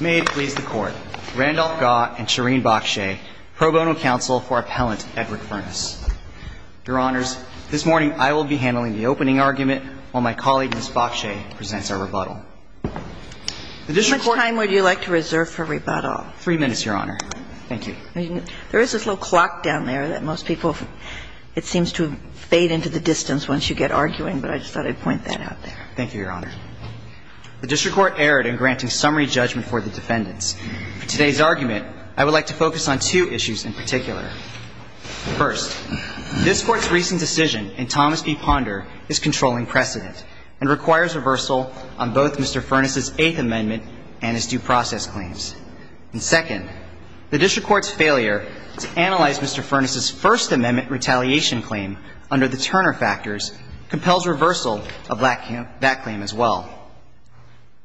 May it please the Court, Randolph Gaw and Shereen Bokshay, pro bono counsel for appellant Edward Furnace. Your Honors, this morning I will be handling the opening argument while my colleague Ms. Bokshay presents our rebuttal. The district court How much time would you like to reserve for rebuttal? Three minutes, Your Honor. Thank you. There is this little clock down there that most people, it seems to fade into the distance once you get arguing, but I just thought I'd point that out there. Thank you, Your Honor. The district court erred in granting summary judgment for the defendants. For today's argument, I would like to focus on two issues in particular. First, this Court's recent decision in Thomas v. Ponder is controlling precedent and requires reversal on both Mr. Furnace's Eighth Amendment and his due process claims. And second, the district court's failure to analyze Mr. Furnace's First Amendment retaliation claim under the Turner factors compels reversal of that claim as well.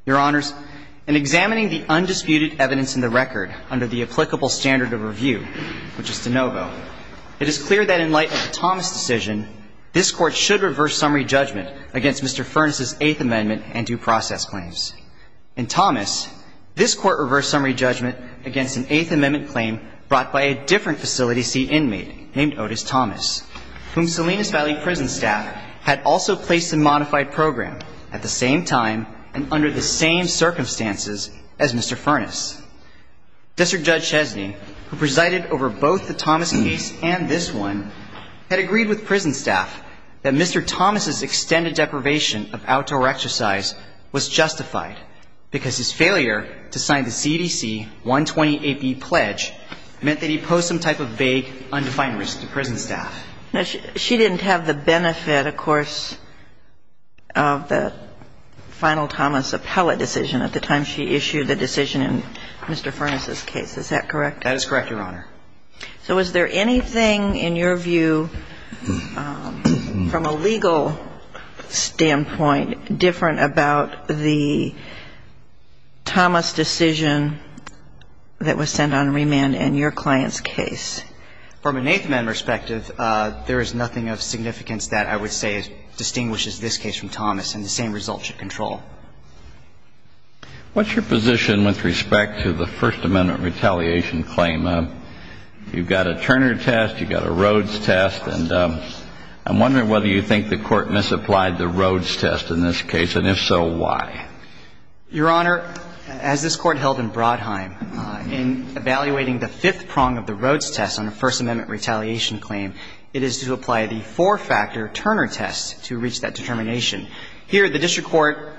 Your Honors, in examining the undisputed evidence in the record under the applicable standard of review, which is de novo, it is clear that in light of the Thomas decision, this Court should reverse summary judgment against Mr. Furnace's Eighth Amendment and due process claims. In Thomas, this Court reversed summary judgment against an Eighth Amendment claim brought by a different facility seat inmate named Otis Thomas, whom Salinas Valley Prison staff had also placed in a modified program at the same time and under the same circumstances as Mr. Furnace. District Judge Chesney, who presided over both the Thomas case and this one, had agreed with prison staff that Mr. Thomas's extended deprivation of outdoor exercise was justified because his failure to sign the CDC 120AP pledge meant that he posed some type of vague, undefined risk to prison staff. Now, she didn't have the benefit, of course, of the final Thomas appellate decision at the time she issued the decision in Mr. Furnace's case. Is that correct? That is correct, Your Honor. So is there anything, in your view, from a legal standpoint, different about the Thomas decision that was sent on remand in your client's case? I think there is. From an Eighth Amendment perspective, there is nothing of significance that I would say distinguishes this case from Thomas and the same results you control. What is your position with respect to the First Amendment retaliation claim? You've got a Turner test, you've got a Rhodes test, and I'm wondering whether you think the Court misapplied the Rhodes test in this case, and if so, why? Your Honor, as this Court held in Brodheim, in evaluating the fifth prong of the Rhodes test on a First Amendment retaliation claim, it is to apply the four-factor Turner test to reach that determination. Here, the district court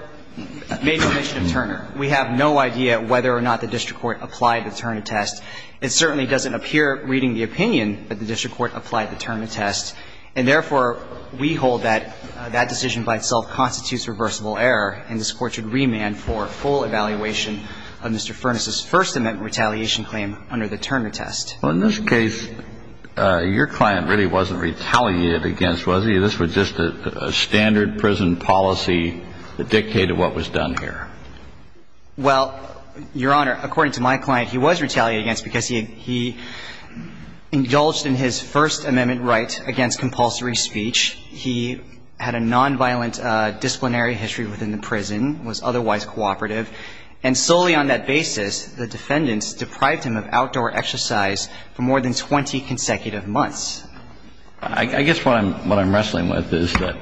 made the omission of Turner. We have no idea whether or not the district court applied the Turner test. It certainly doesn't appear, reading the opinion, that the district court applied the Turner test, and therefore, we hold that that decision by itself constitutes reversible error, and this Court should remand for full evaluation of Mr. Furness's First Amendment retaliation claim under the Turner test. Well, in this case, your client really wasn't retaliated against, was he? This was just a standard prison policy that dictated what was done here. Well, Your Honor, according to my client, he was retaliated against because he indulged in his First Amendment right against compulsory speech. He had a nonviolent disciplinary history within the prison, was otherwise cooperative, and solely on that basis, the defendants deprived him of outdoor exercise for more than 20 consecutive months. I guess what I'm wrestling with is that,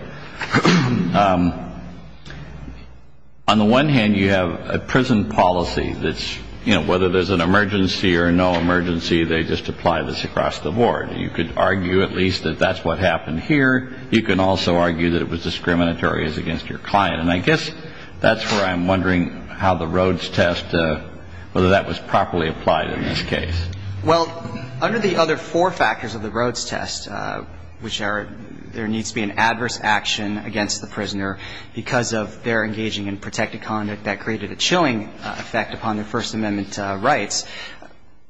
on the one hand, you have a prison policy that's, you know, whether there's an emergency or no emergency, they just apply this across the board. You could argue at least that that's what happened here. You can also argue that it was discriminatory as against your client. And I guess that's where I'm wondering how the Rhodes test, whether that was properly applied in this case. Well, under the other four factors of the Rhodes test, which are there needs to be an adverse action against the prisoner because of their engaging in protective conduct that created a chilling effect upon their First Amendment rights,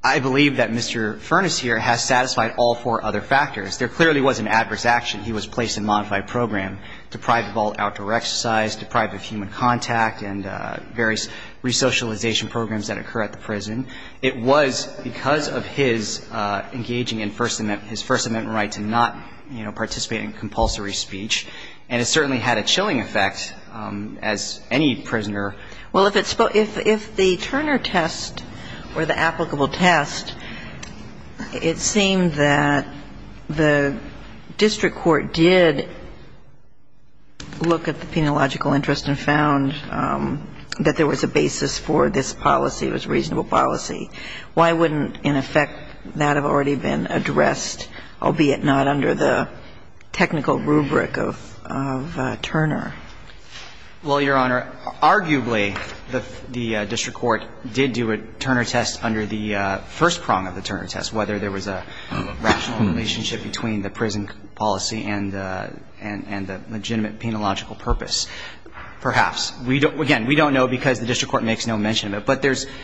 I believe that Mr. Furness here has satisfied all four other factors. There clearly was an adverse action. He was placed in a modified program, deprived of all outdoor exercise, deprived of human contact and various resocialization programs that occur at the prison. It was because of his engaging in First Amendment – his First Amendment right to not, you know, participate in compulsory speech. And it certainly had a chilling effect as any prisoner. Well, if it's – if the Turner test or the applicable test, it seemed that the district court did look at the penilogical interest and found that there was a basis for this policy, it was a reasonable policy, why wouldn't, in effect, that have already been addressed, albeit not under the technical rubric of Turner? Well, Your Honor, arguably, the district court did do a Turner test under the first prong of the Turner test, whether there was a rational relationship between the prison policy and the legitimate penilogical purpose. Perhaps. We don't – again, we don't know because the district court makes no mention of it. But there's –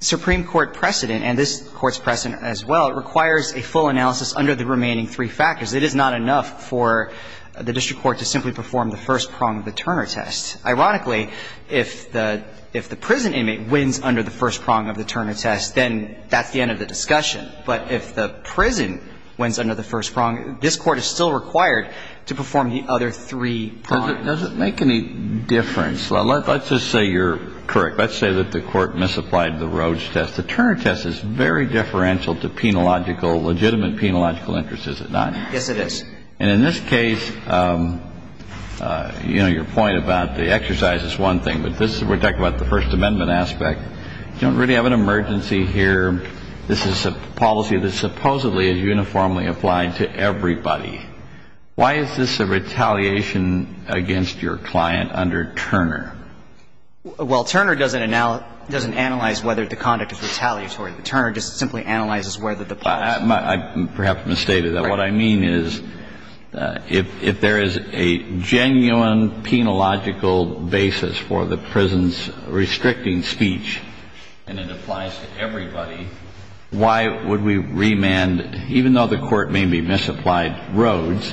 Supreme Court precedent, and this Court's precedent as well, requires a full analysis under the remaining three factors. It is not enough for the district court to simply perform the first prong of the Turner test. Ironically, if the – if the prison inmate wins under the first prong of the Turner test, then that's the end of the discussion. But if the prison wins under the first prong, this Court is still required to perform the other three prongs. Does it make any difference – let's just say you're correct. Let's say that the Court misapplied the Roach test. The Turner test is very differential to penilogical – legitimate penilogical interest, is it not? Yes, it is. And in this case, you know, your point about the exercise is one thing. But this – we're talking about the First Amendment aspect. You don't really have an emergency here. This is a policy that supposedly is uniformly applied to everybody. Why is this a retaliation against your client under Turner? Well, Turner doesn't – doesn't analyze whether the conduct is retaliatory. Turner just simply analyzes whether the policy is. I perhaps mistaken. But if the Court is generally – is generally going to do that, what I mean is if there is a genuine penilogical basis for the prison's restricting speech and it applies to everybody, why would we remand? Even though the Court may be misapplied Roach,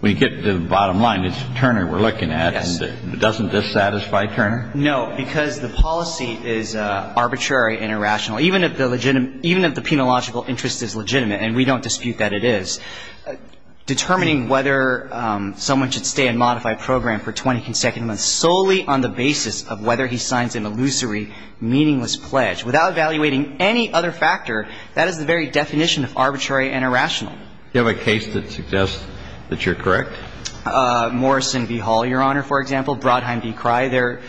when you get to the bottom line, it's Turner we're looking at. Yes. And doesn't this satisfy Turner? No, because the policy is arbitrary and irrational. Even if the legitimate – even if the penilogical interest is legitimate, and we don't dispute that it is, determining whether someone should stay in modified program for 20 consecutive months solely on the basis of whether he signs an illusory, meaningless pledge, without evaluating any other factor, that is the very definition of arbitrary and irrational. Do you have a case that suggests that you're correct? Morrison v. Hall, Your Honor, for example. Brodheim v. Crye.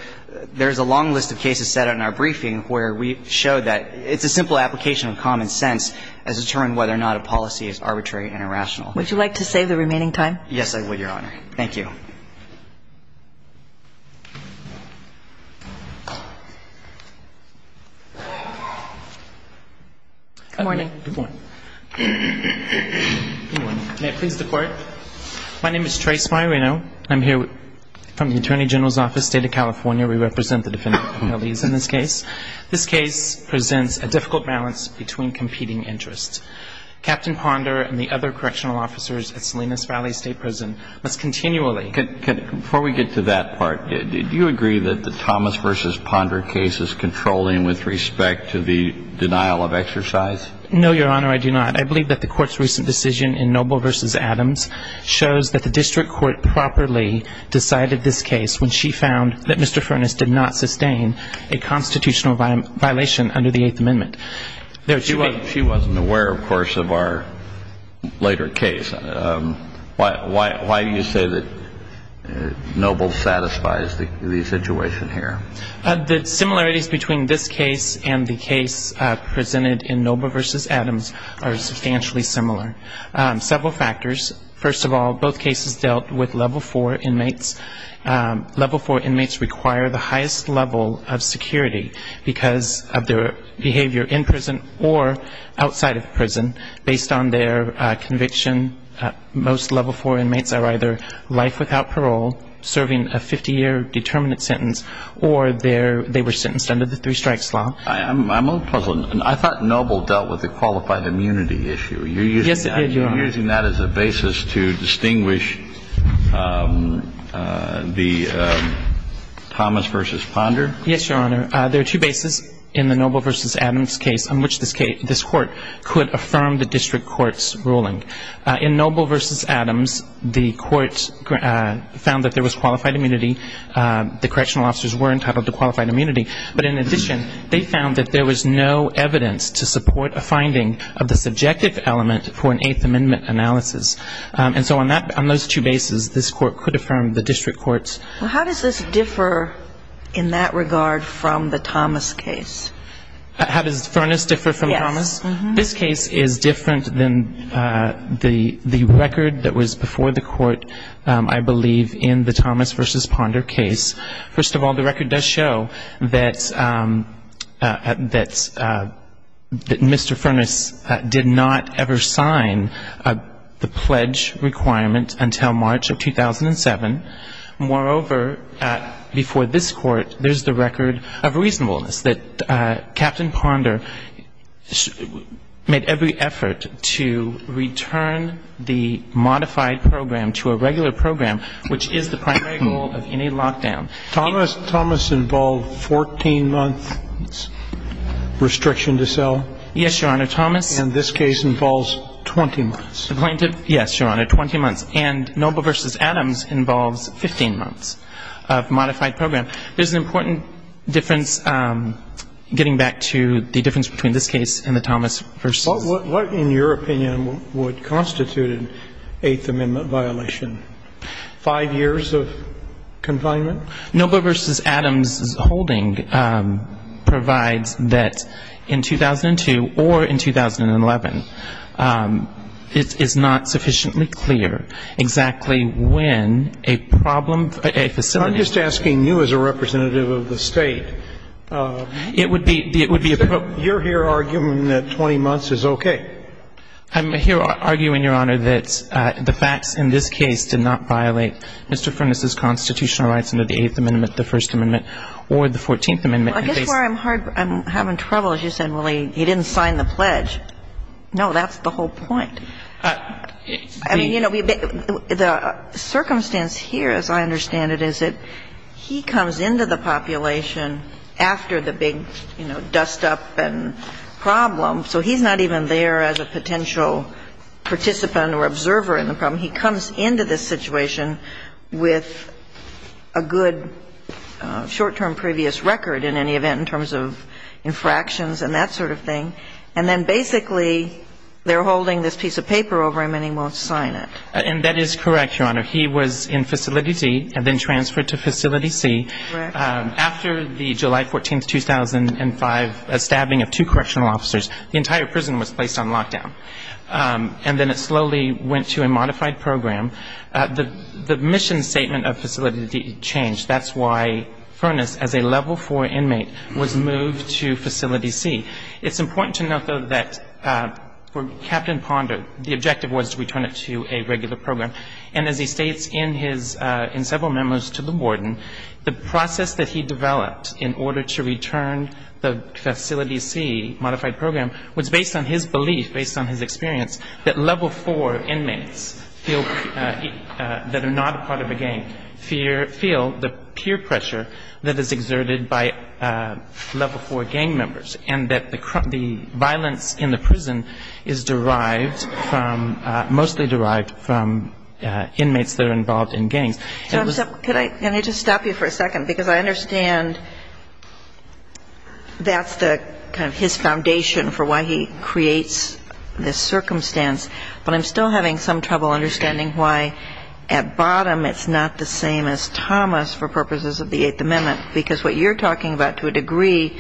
There's a long list of cases set out in our briefing where we show that it's a simple application of common sense as to determine whether or not a policy is arbitrary and irrational. Would you like to save the remaining time? Yes, I would, Your Honor. Thank you. Good morning. Good morning. Good morning. May I please the Court? My name is Trey Smirino. I'm here from the Attorney General's Office, State of California. We represent the defendant's families in this case. This case presents a difficult balance between competing interests. Captain Ponder and the other correctional officers at Salinas Valley State Prison must continually – Before we get to that part, do you agree that the Thomas v. Ponder case is controlling with respect to the denial of exercise? No, Your Honor, I do not. I believe that the Court's recent decision in Noble v. Adams shows that the district court properly decided this case when she found that Mr. Furness did not sustain a constitutional violation under the Eighth Amendment. She wasn't aware, of course, of our later case. Why do you say that Noble satisfies the situation here? The similarities between this case and the case presented in Noble v. Adams are substantially similar. Several factors. First of all, both cases dealt with Level 4 inmates. Level 4 inmates require the highest level of security because of their behavior in prison or outside of prison based on their conviction. Most Level 4 inmates are either life without parole, serving a 50-year determinant sentence, or they were sentenced under the Three Strikes Law. I'm a little puzzled. I thought Noble dealt with the qualified immunity issue. Yes, it did, Your Honor. I'm using that as a basis to distinguish the Thomas v. Ponder. Yes, Your Honor. There are two bases in the Noble v. Adams case on which this Court could affirm the district court's ruling. In Noble v. Adams, the Court found that there was qualified immunity. The correctional officers were entitled to qualified immunity. But in addition, they found that there was no evidence to support a finding of the subjective element for an Eighth Amendment analysis. And so on that – on those two bases, this Court could affirm the district court's ruling. Well, how does this differ in that regard from the Thomas case? How does Furness differ from Thomas? Yes. This case is different than the record that was before the Court, I believe, in the Thomas v. Ponder case. First of all, the record does show that Mr. Furness did not ever sign the pledge requirement until March of 2007. Moreover, before this Court, there's the record of reasonableness, that Captain Ponder made every effort to return the modified program to a regular program, which is the primary goal of any lockdown. Thomas – Thomas involved 14 months' restriction to sell? Yes, Your Honor. Thomas – And this case involves 20 months. Plaintiff? Yes, Your Honor, 20 months. And Noble v. Adams involves 15 months of modified program. There's an important difference, getting back to the difference between this case and the Thomas v. What, in your opinion, would constitute an Eighth Amendment violation? Five years of confinement? Noble v. Adams' holding provides that in 2002 or in 2011, it's not sufficiently clear exactly when a problem – a facility – I'm just asking you as a representative of the State. It would be – it would be – You're here arguing that 20 months is okay. I'm here arguing, Your Honor, that the facts in this case did not violate Mr. Furness's constitutional rights under the Eighth Amendment, the First Amendment, or the Fourteenth Amendment in this case. Well, I guess where I'm hard – I'm having trouble, as you said, Willie, he didn't sign the pledge. No, that's the whole point. I mean, you know, the circumstance here, as I understand it, is that he comes into the population after the big, you know, dust-up and problem, so he's not even there as a potential participant or observer in the problem. He comes into this situation with a good short-term previous record, in any event, in terms of infractions and that sort of thing, and then basically they're holding this piece of paper over him and he won't sign it. And that is correct, Your Honor. He was in Facility C and then transferred to Facility C. Correct. After the July 14th, 2005 stabbing of two correctional officers, the entire prison was placed on lockdown, and then it slowly went to a modified program. The mission statement of Facility D changed. That's why Furness, as a Level IV inmate, was moved to Facility C. It's important to note, though, that for Captain Ponder, the objective was to return it to a regular program, and as he states in his – in several memos to the warden, the process that he developed in order to return the Facility C modified program was based on his belief, based on his experience, that Level IV inmates feel that are not part of a gang feel the peer pressure that is exerted by Level IV gang members and that the violence in the prison is derived from – mostly derived from inmates that are involved in gangs. Can I just stop you for a second? Because I understand that's the – kind of his foundation for why he creates this circumstance, but I'm still having some trouble understanding why at bottom it's not the same as Thomas for purposes of the Eighth Amendment, because what you're talking about to a degree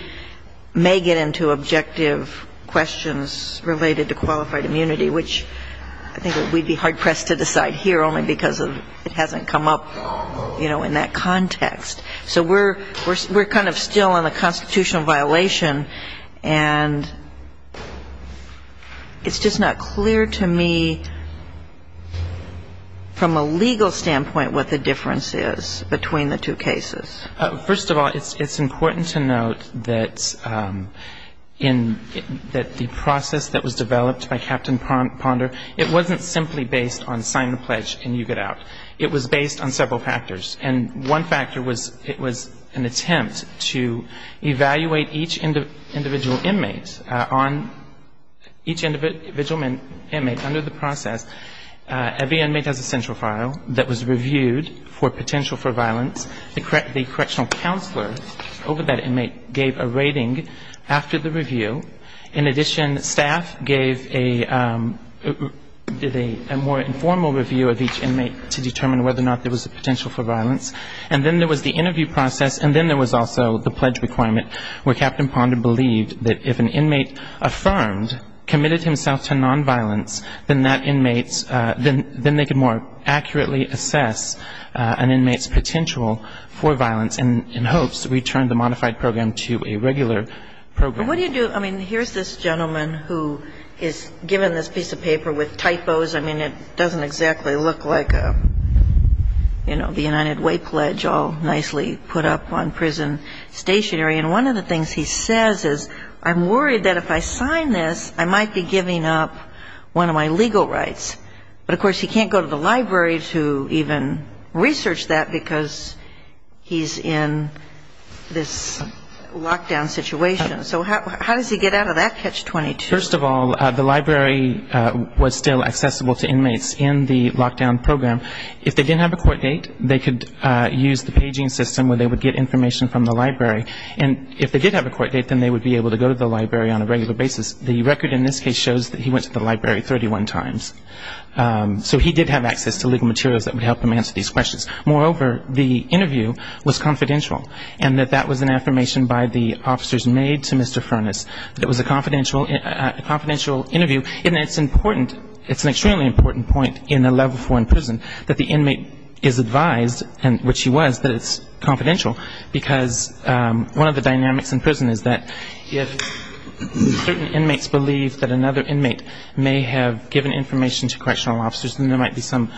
may get into objective questions related to qualified immunity, which I think we'd be hard-pressed to decide here only because it hasn't come up, you know, in that context. So we're kind of still on a constitutional violation, and it's just not clear to me from a legal standpoint what the difference is between the two cases. First of all, it's important to note that in – that the process that was developed by Captain Ponder, it wasn't simply based on sign the pledge and you get out. It was based on several factors, and one factor was it was an attempt to evaluate each individual inmate on – each individual inmate under the process. Every inmate has a central file that was reviewed for potential for violence. The correctional counselor over that inmate gave a rating after the review. In addition, staff gave a – did a more informal review of each inmate to determine whether or not there was a potential for violence. And then there was the interview process, and then there was also the pledge requirement where Captain Ponder believed that if an inmate affirmed, committed himself to nonviolence, then that inmate's – then they could more accurately assess an inmate's potential for violence in hopes to return the modified program to a regular program. And what do you do – I mean, here's this gentleman who is given this piece of paper with typos. I mean, it doesn't exactly look like a, you know, the United Way pledge all nicely put up on prison stationery. And one of the things he says is, I'm worried that if I sign this, I might be giving up one of my legal rights. But, of course, he can't go to the library to even research that because he's in this lockdown situation. So how does he get out of that catch-22? First of all, the library was still accessible to inmates in the lockdown program. If they didn't have a court date, they could use the paging system where they would get information from the library. And if they did have a court date, then they would be able to go to the library on a regular basis. The record in this case shows that he went to the library 31 times. So he did have access to legal materials that would help him answer these questions. Moreover, the interview was confidential, and that that was an affirmation by the officers made to Mr. Furness that it was a confidential interview. And it's important. It's an extremely important point in a level four in prison that the inmate is advised, which he was, that it's confidential. Because one of the dynamics in prison is that if certain inmates believe that another inmate may have given information to correctional officers, then there might be some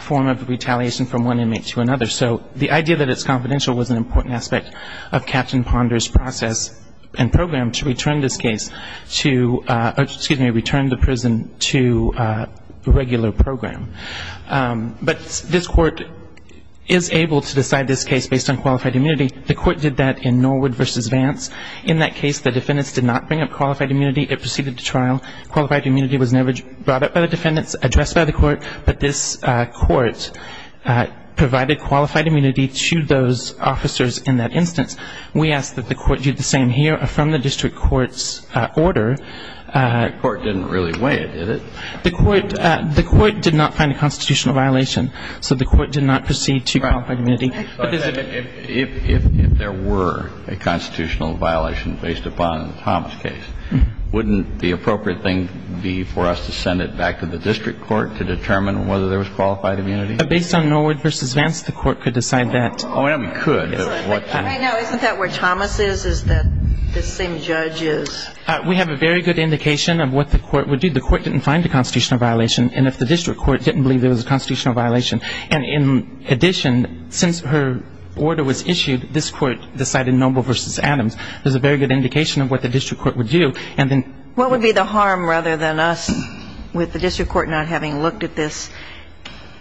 form of retaliation from one inmate to another. So the idea that it's confidential was an important aspect of Captain Ponder's process and program to return this case to, excuse me, return the prison to a regular program. But this court is able to decide this case based on qualified immunity. The court did that in Norwood v. Vance. In that case, the defendants did not bring up qualified immunity. It proceeded to trial. Qualified immunity was never brought up by the defendants, addressed by the district court. But this court provided qualified immunity to those officers in that instance. We ask that the court do the same here from the district court's order. The court didn't really weigh it, did it? The court did not find a constitutional violation. So the court did not proceed to qualified immunity. If there were a constitutional violation based upon Tom's case, wouldn't the district court determine whether there was qualified immunity? Based on Norwood v. Vance, the court could decide that. Oh, yeah, we could. Right now, isn't that where Thomas is, is that the same judge is? We have a very good indication of what the court would do. The court didn't find a constitutional violation. And if the district court didn't believe there was a constitutional violation, and in addition, since her order was issued, this court decided Noble v. Adams. There's a very good indication of what the district court would do. What would be the harm rather than us with the district court not having looked at this,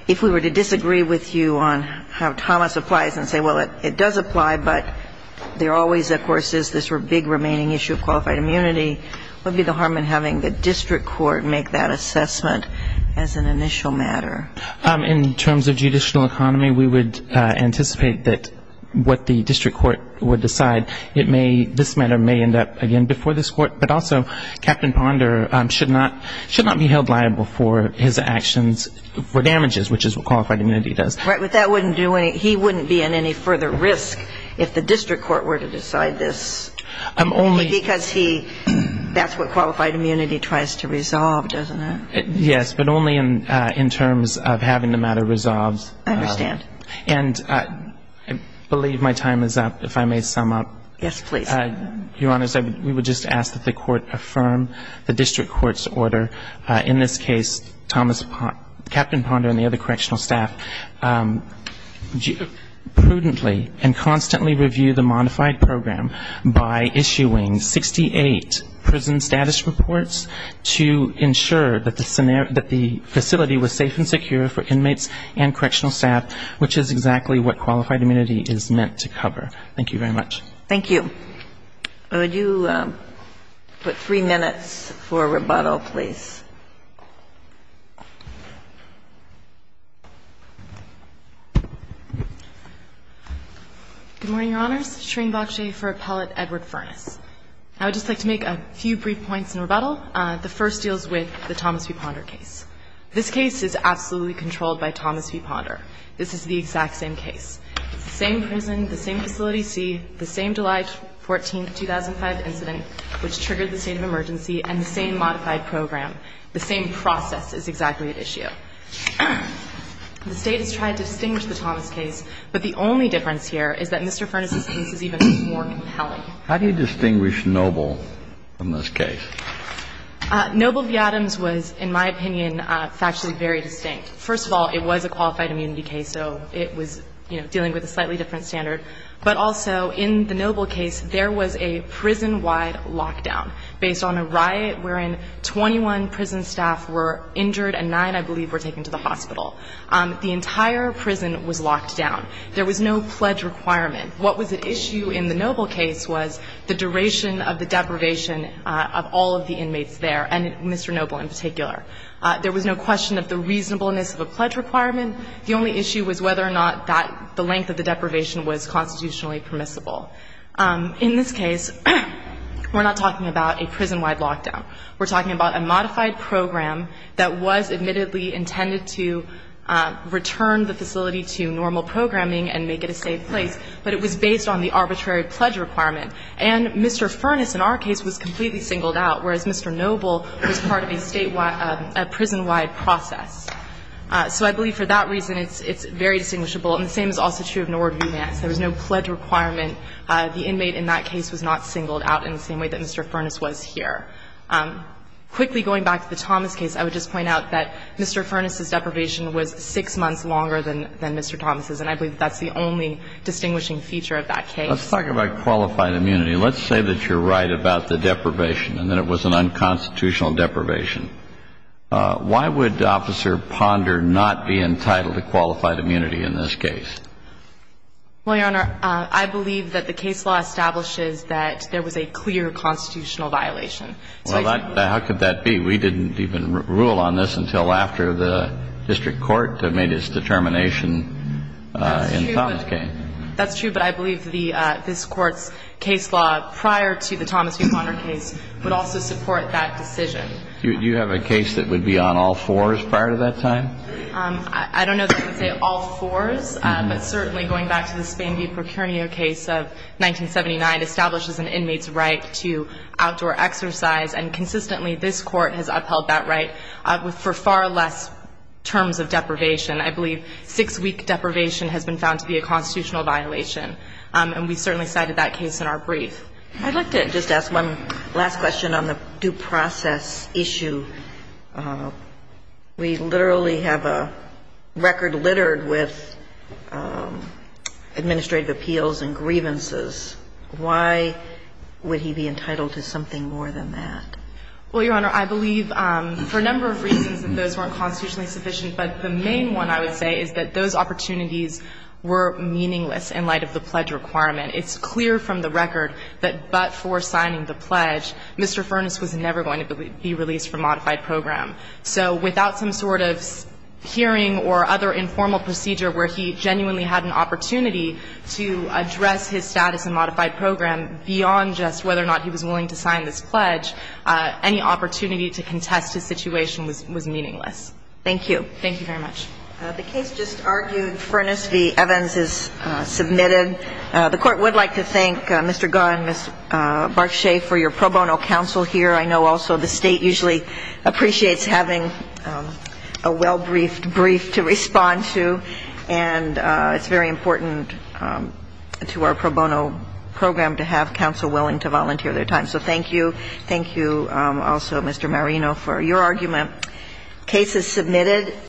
if we were to disagree with you on how Thomas applies and say, well, it does apply, but there always, of course, is this big remaining issue of qualified immunity, what would be the harm in having the district court make that assessment as an initial matter? In terms of judicial economy, we would anticipate that what the district court would decide, this matter may end up, again, before this court, but also Captain Ponder should not be held liable for his actions for damages, which is what qualified immunity does. Right, but he wouldn't be in any further risk if the district court were to decide this, because that's what qualified immunity tries to resolve, doesn't it? Yes, but only in terms of having the matter resolved. I understand. And I believe my time is up, if I may sum up. Yes, please. Your Honor, we would just ask that the court affirm the district court's order. In this case, Captain Ponder and the other correctional staff prudently and constantly review the modified program by issuing 68 prison status reports to ensure that the facility was safe and secure for inmates and correctional staff, which is exactly what qualified immunity is meant to cover. Thank you very much. Thank you. Would you put three minutes for rebuttal, please? Good morning, Your Honors. Shereen Bakshi for Appellate Edward Furness. I would just like to make a few brief points in rebuttal. The first deals with the Thomas v. Ponder case. This case is absolutely controlled by Thomas v. Ponder. This is the exact same case. It's the same prison, the same facility C, the same July 14, 2005 incident, which triggered the state of emergency, and the same modified program. The same process is exactly at issue. The State has tried to distinguish the Thomas case, but the only difference here is that Mr. Furness' case is even more compelling. How do you distinguish Noble from this case? Noble v. Adams was, in my opinion, factually very distinct. First of all, it was a qualified immunity case, so it was, you know, dealing with a slightly different standard. But also, in the Noble case, there was a prison-wide lockdown, based on a riot wherein 21 prison staff were injured and 9, I believe, were taken to the hospital. The entire prison was locked down. There was no pledge requirement. What was at issue in the Noble case was the duration of the deprivation of all of the inmates there, and Mr. Noble in particular. There was no question of the reasonableness of a pledge requirement. The only issue was whether or not the length of the deprivation was constitutionally permissible. In this case, we're not talking about a prison-wide lockdown. We're talking about a modified program that was admittedly intended to return the facility to normal programming and make it a safe place, but it was based on the arbitrary pledge requirement. And Mr. Furness, in our case, was completely singled out, whereas Mr. Noble was part of a state-wide, a prison-wide process. So I believe for that reason, it's very distinguishable. And the same is also true of Nord v. Vance. There was no pledge requirement. The inmate in that case was not singled out in the same way that Mr. Furness was here. Quickly going back to the Thomas case, I would just point out that Mr. Furness's deprivation was 6 months longer than Mr. Thomas's, and I believe that's the only distinguishing feature of that case. Kennedy. Let's talk about qualified immunity. Let's say that you're right about the deprivation and that it was an unconstitutional deprivation. Why would Officer Ponder not be entitled to qualified immunity in this case? Well, Your Honor, I believe that the case law establishes that there was a clear constitutional violation. Well, how could that be? We didn't even rule on this until after the District Court made its determination in Thomas's case. That's true, but I believe this Court's case law, prior to the Thomas v. Ponder case, would also support that decision. Do you have a case that would be on all fours prior to that time? I don't know that I would say all fours, but certainly going back to the Spain v. Procurnio case of 1979, establishes an inmate's right to outdoor exercise, and consistently this Court has upheld that right for far less terms of deprivation. I believe six-week deprivation has been found to be a constitutional violation, and we certainly cited that case in our brief. I'd like to just ask one last question on the due process issue. We literally have a record littered with administrative appeals and grievances. Why would he be entitled to something more than that? Well, Your Honor, I believe for a number of reasons those weren't constitutionally sufficient, but the main one I would say is that those opportunities were meaningless in light of the pledge requirement. It's clear from the record that but for signing the pledge, Mr. Furness was never going to be released from modified program. So without some sort of hearing or other informal procedure where he genuinely had an opportunity to address his status in modified program beyond just whether or not he was willing to sign this pledge, any opportunity to contest his situation was meaningless. Thank you. Thank you very much. The case just argued. Furness v. Evans is submitted. The Court would like to thank Mr. Gunn, Ms. Barchet for your pro bono counsel here. I know also the State usually appreciates having a well-briefed brief to respond to, and it's very important to our pro bono program to have counsel willing to volunteer their time. So thank you. Thank you also, Mr. Marino, for your argument. Case is submitted.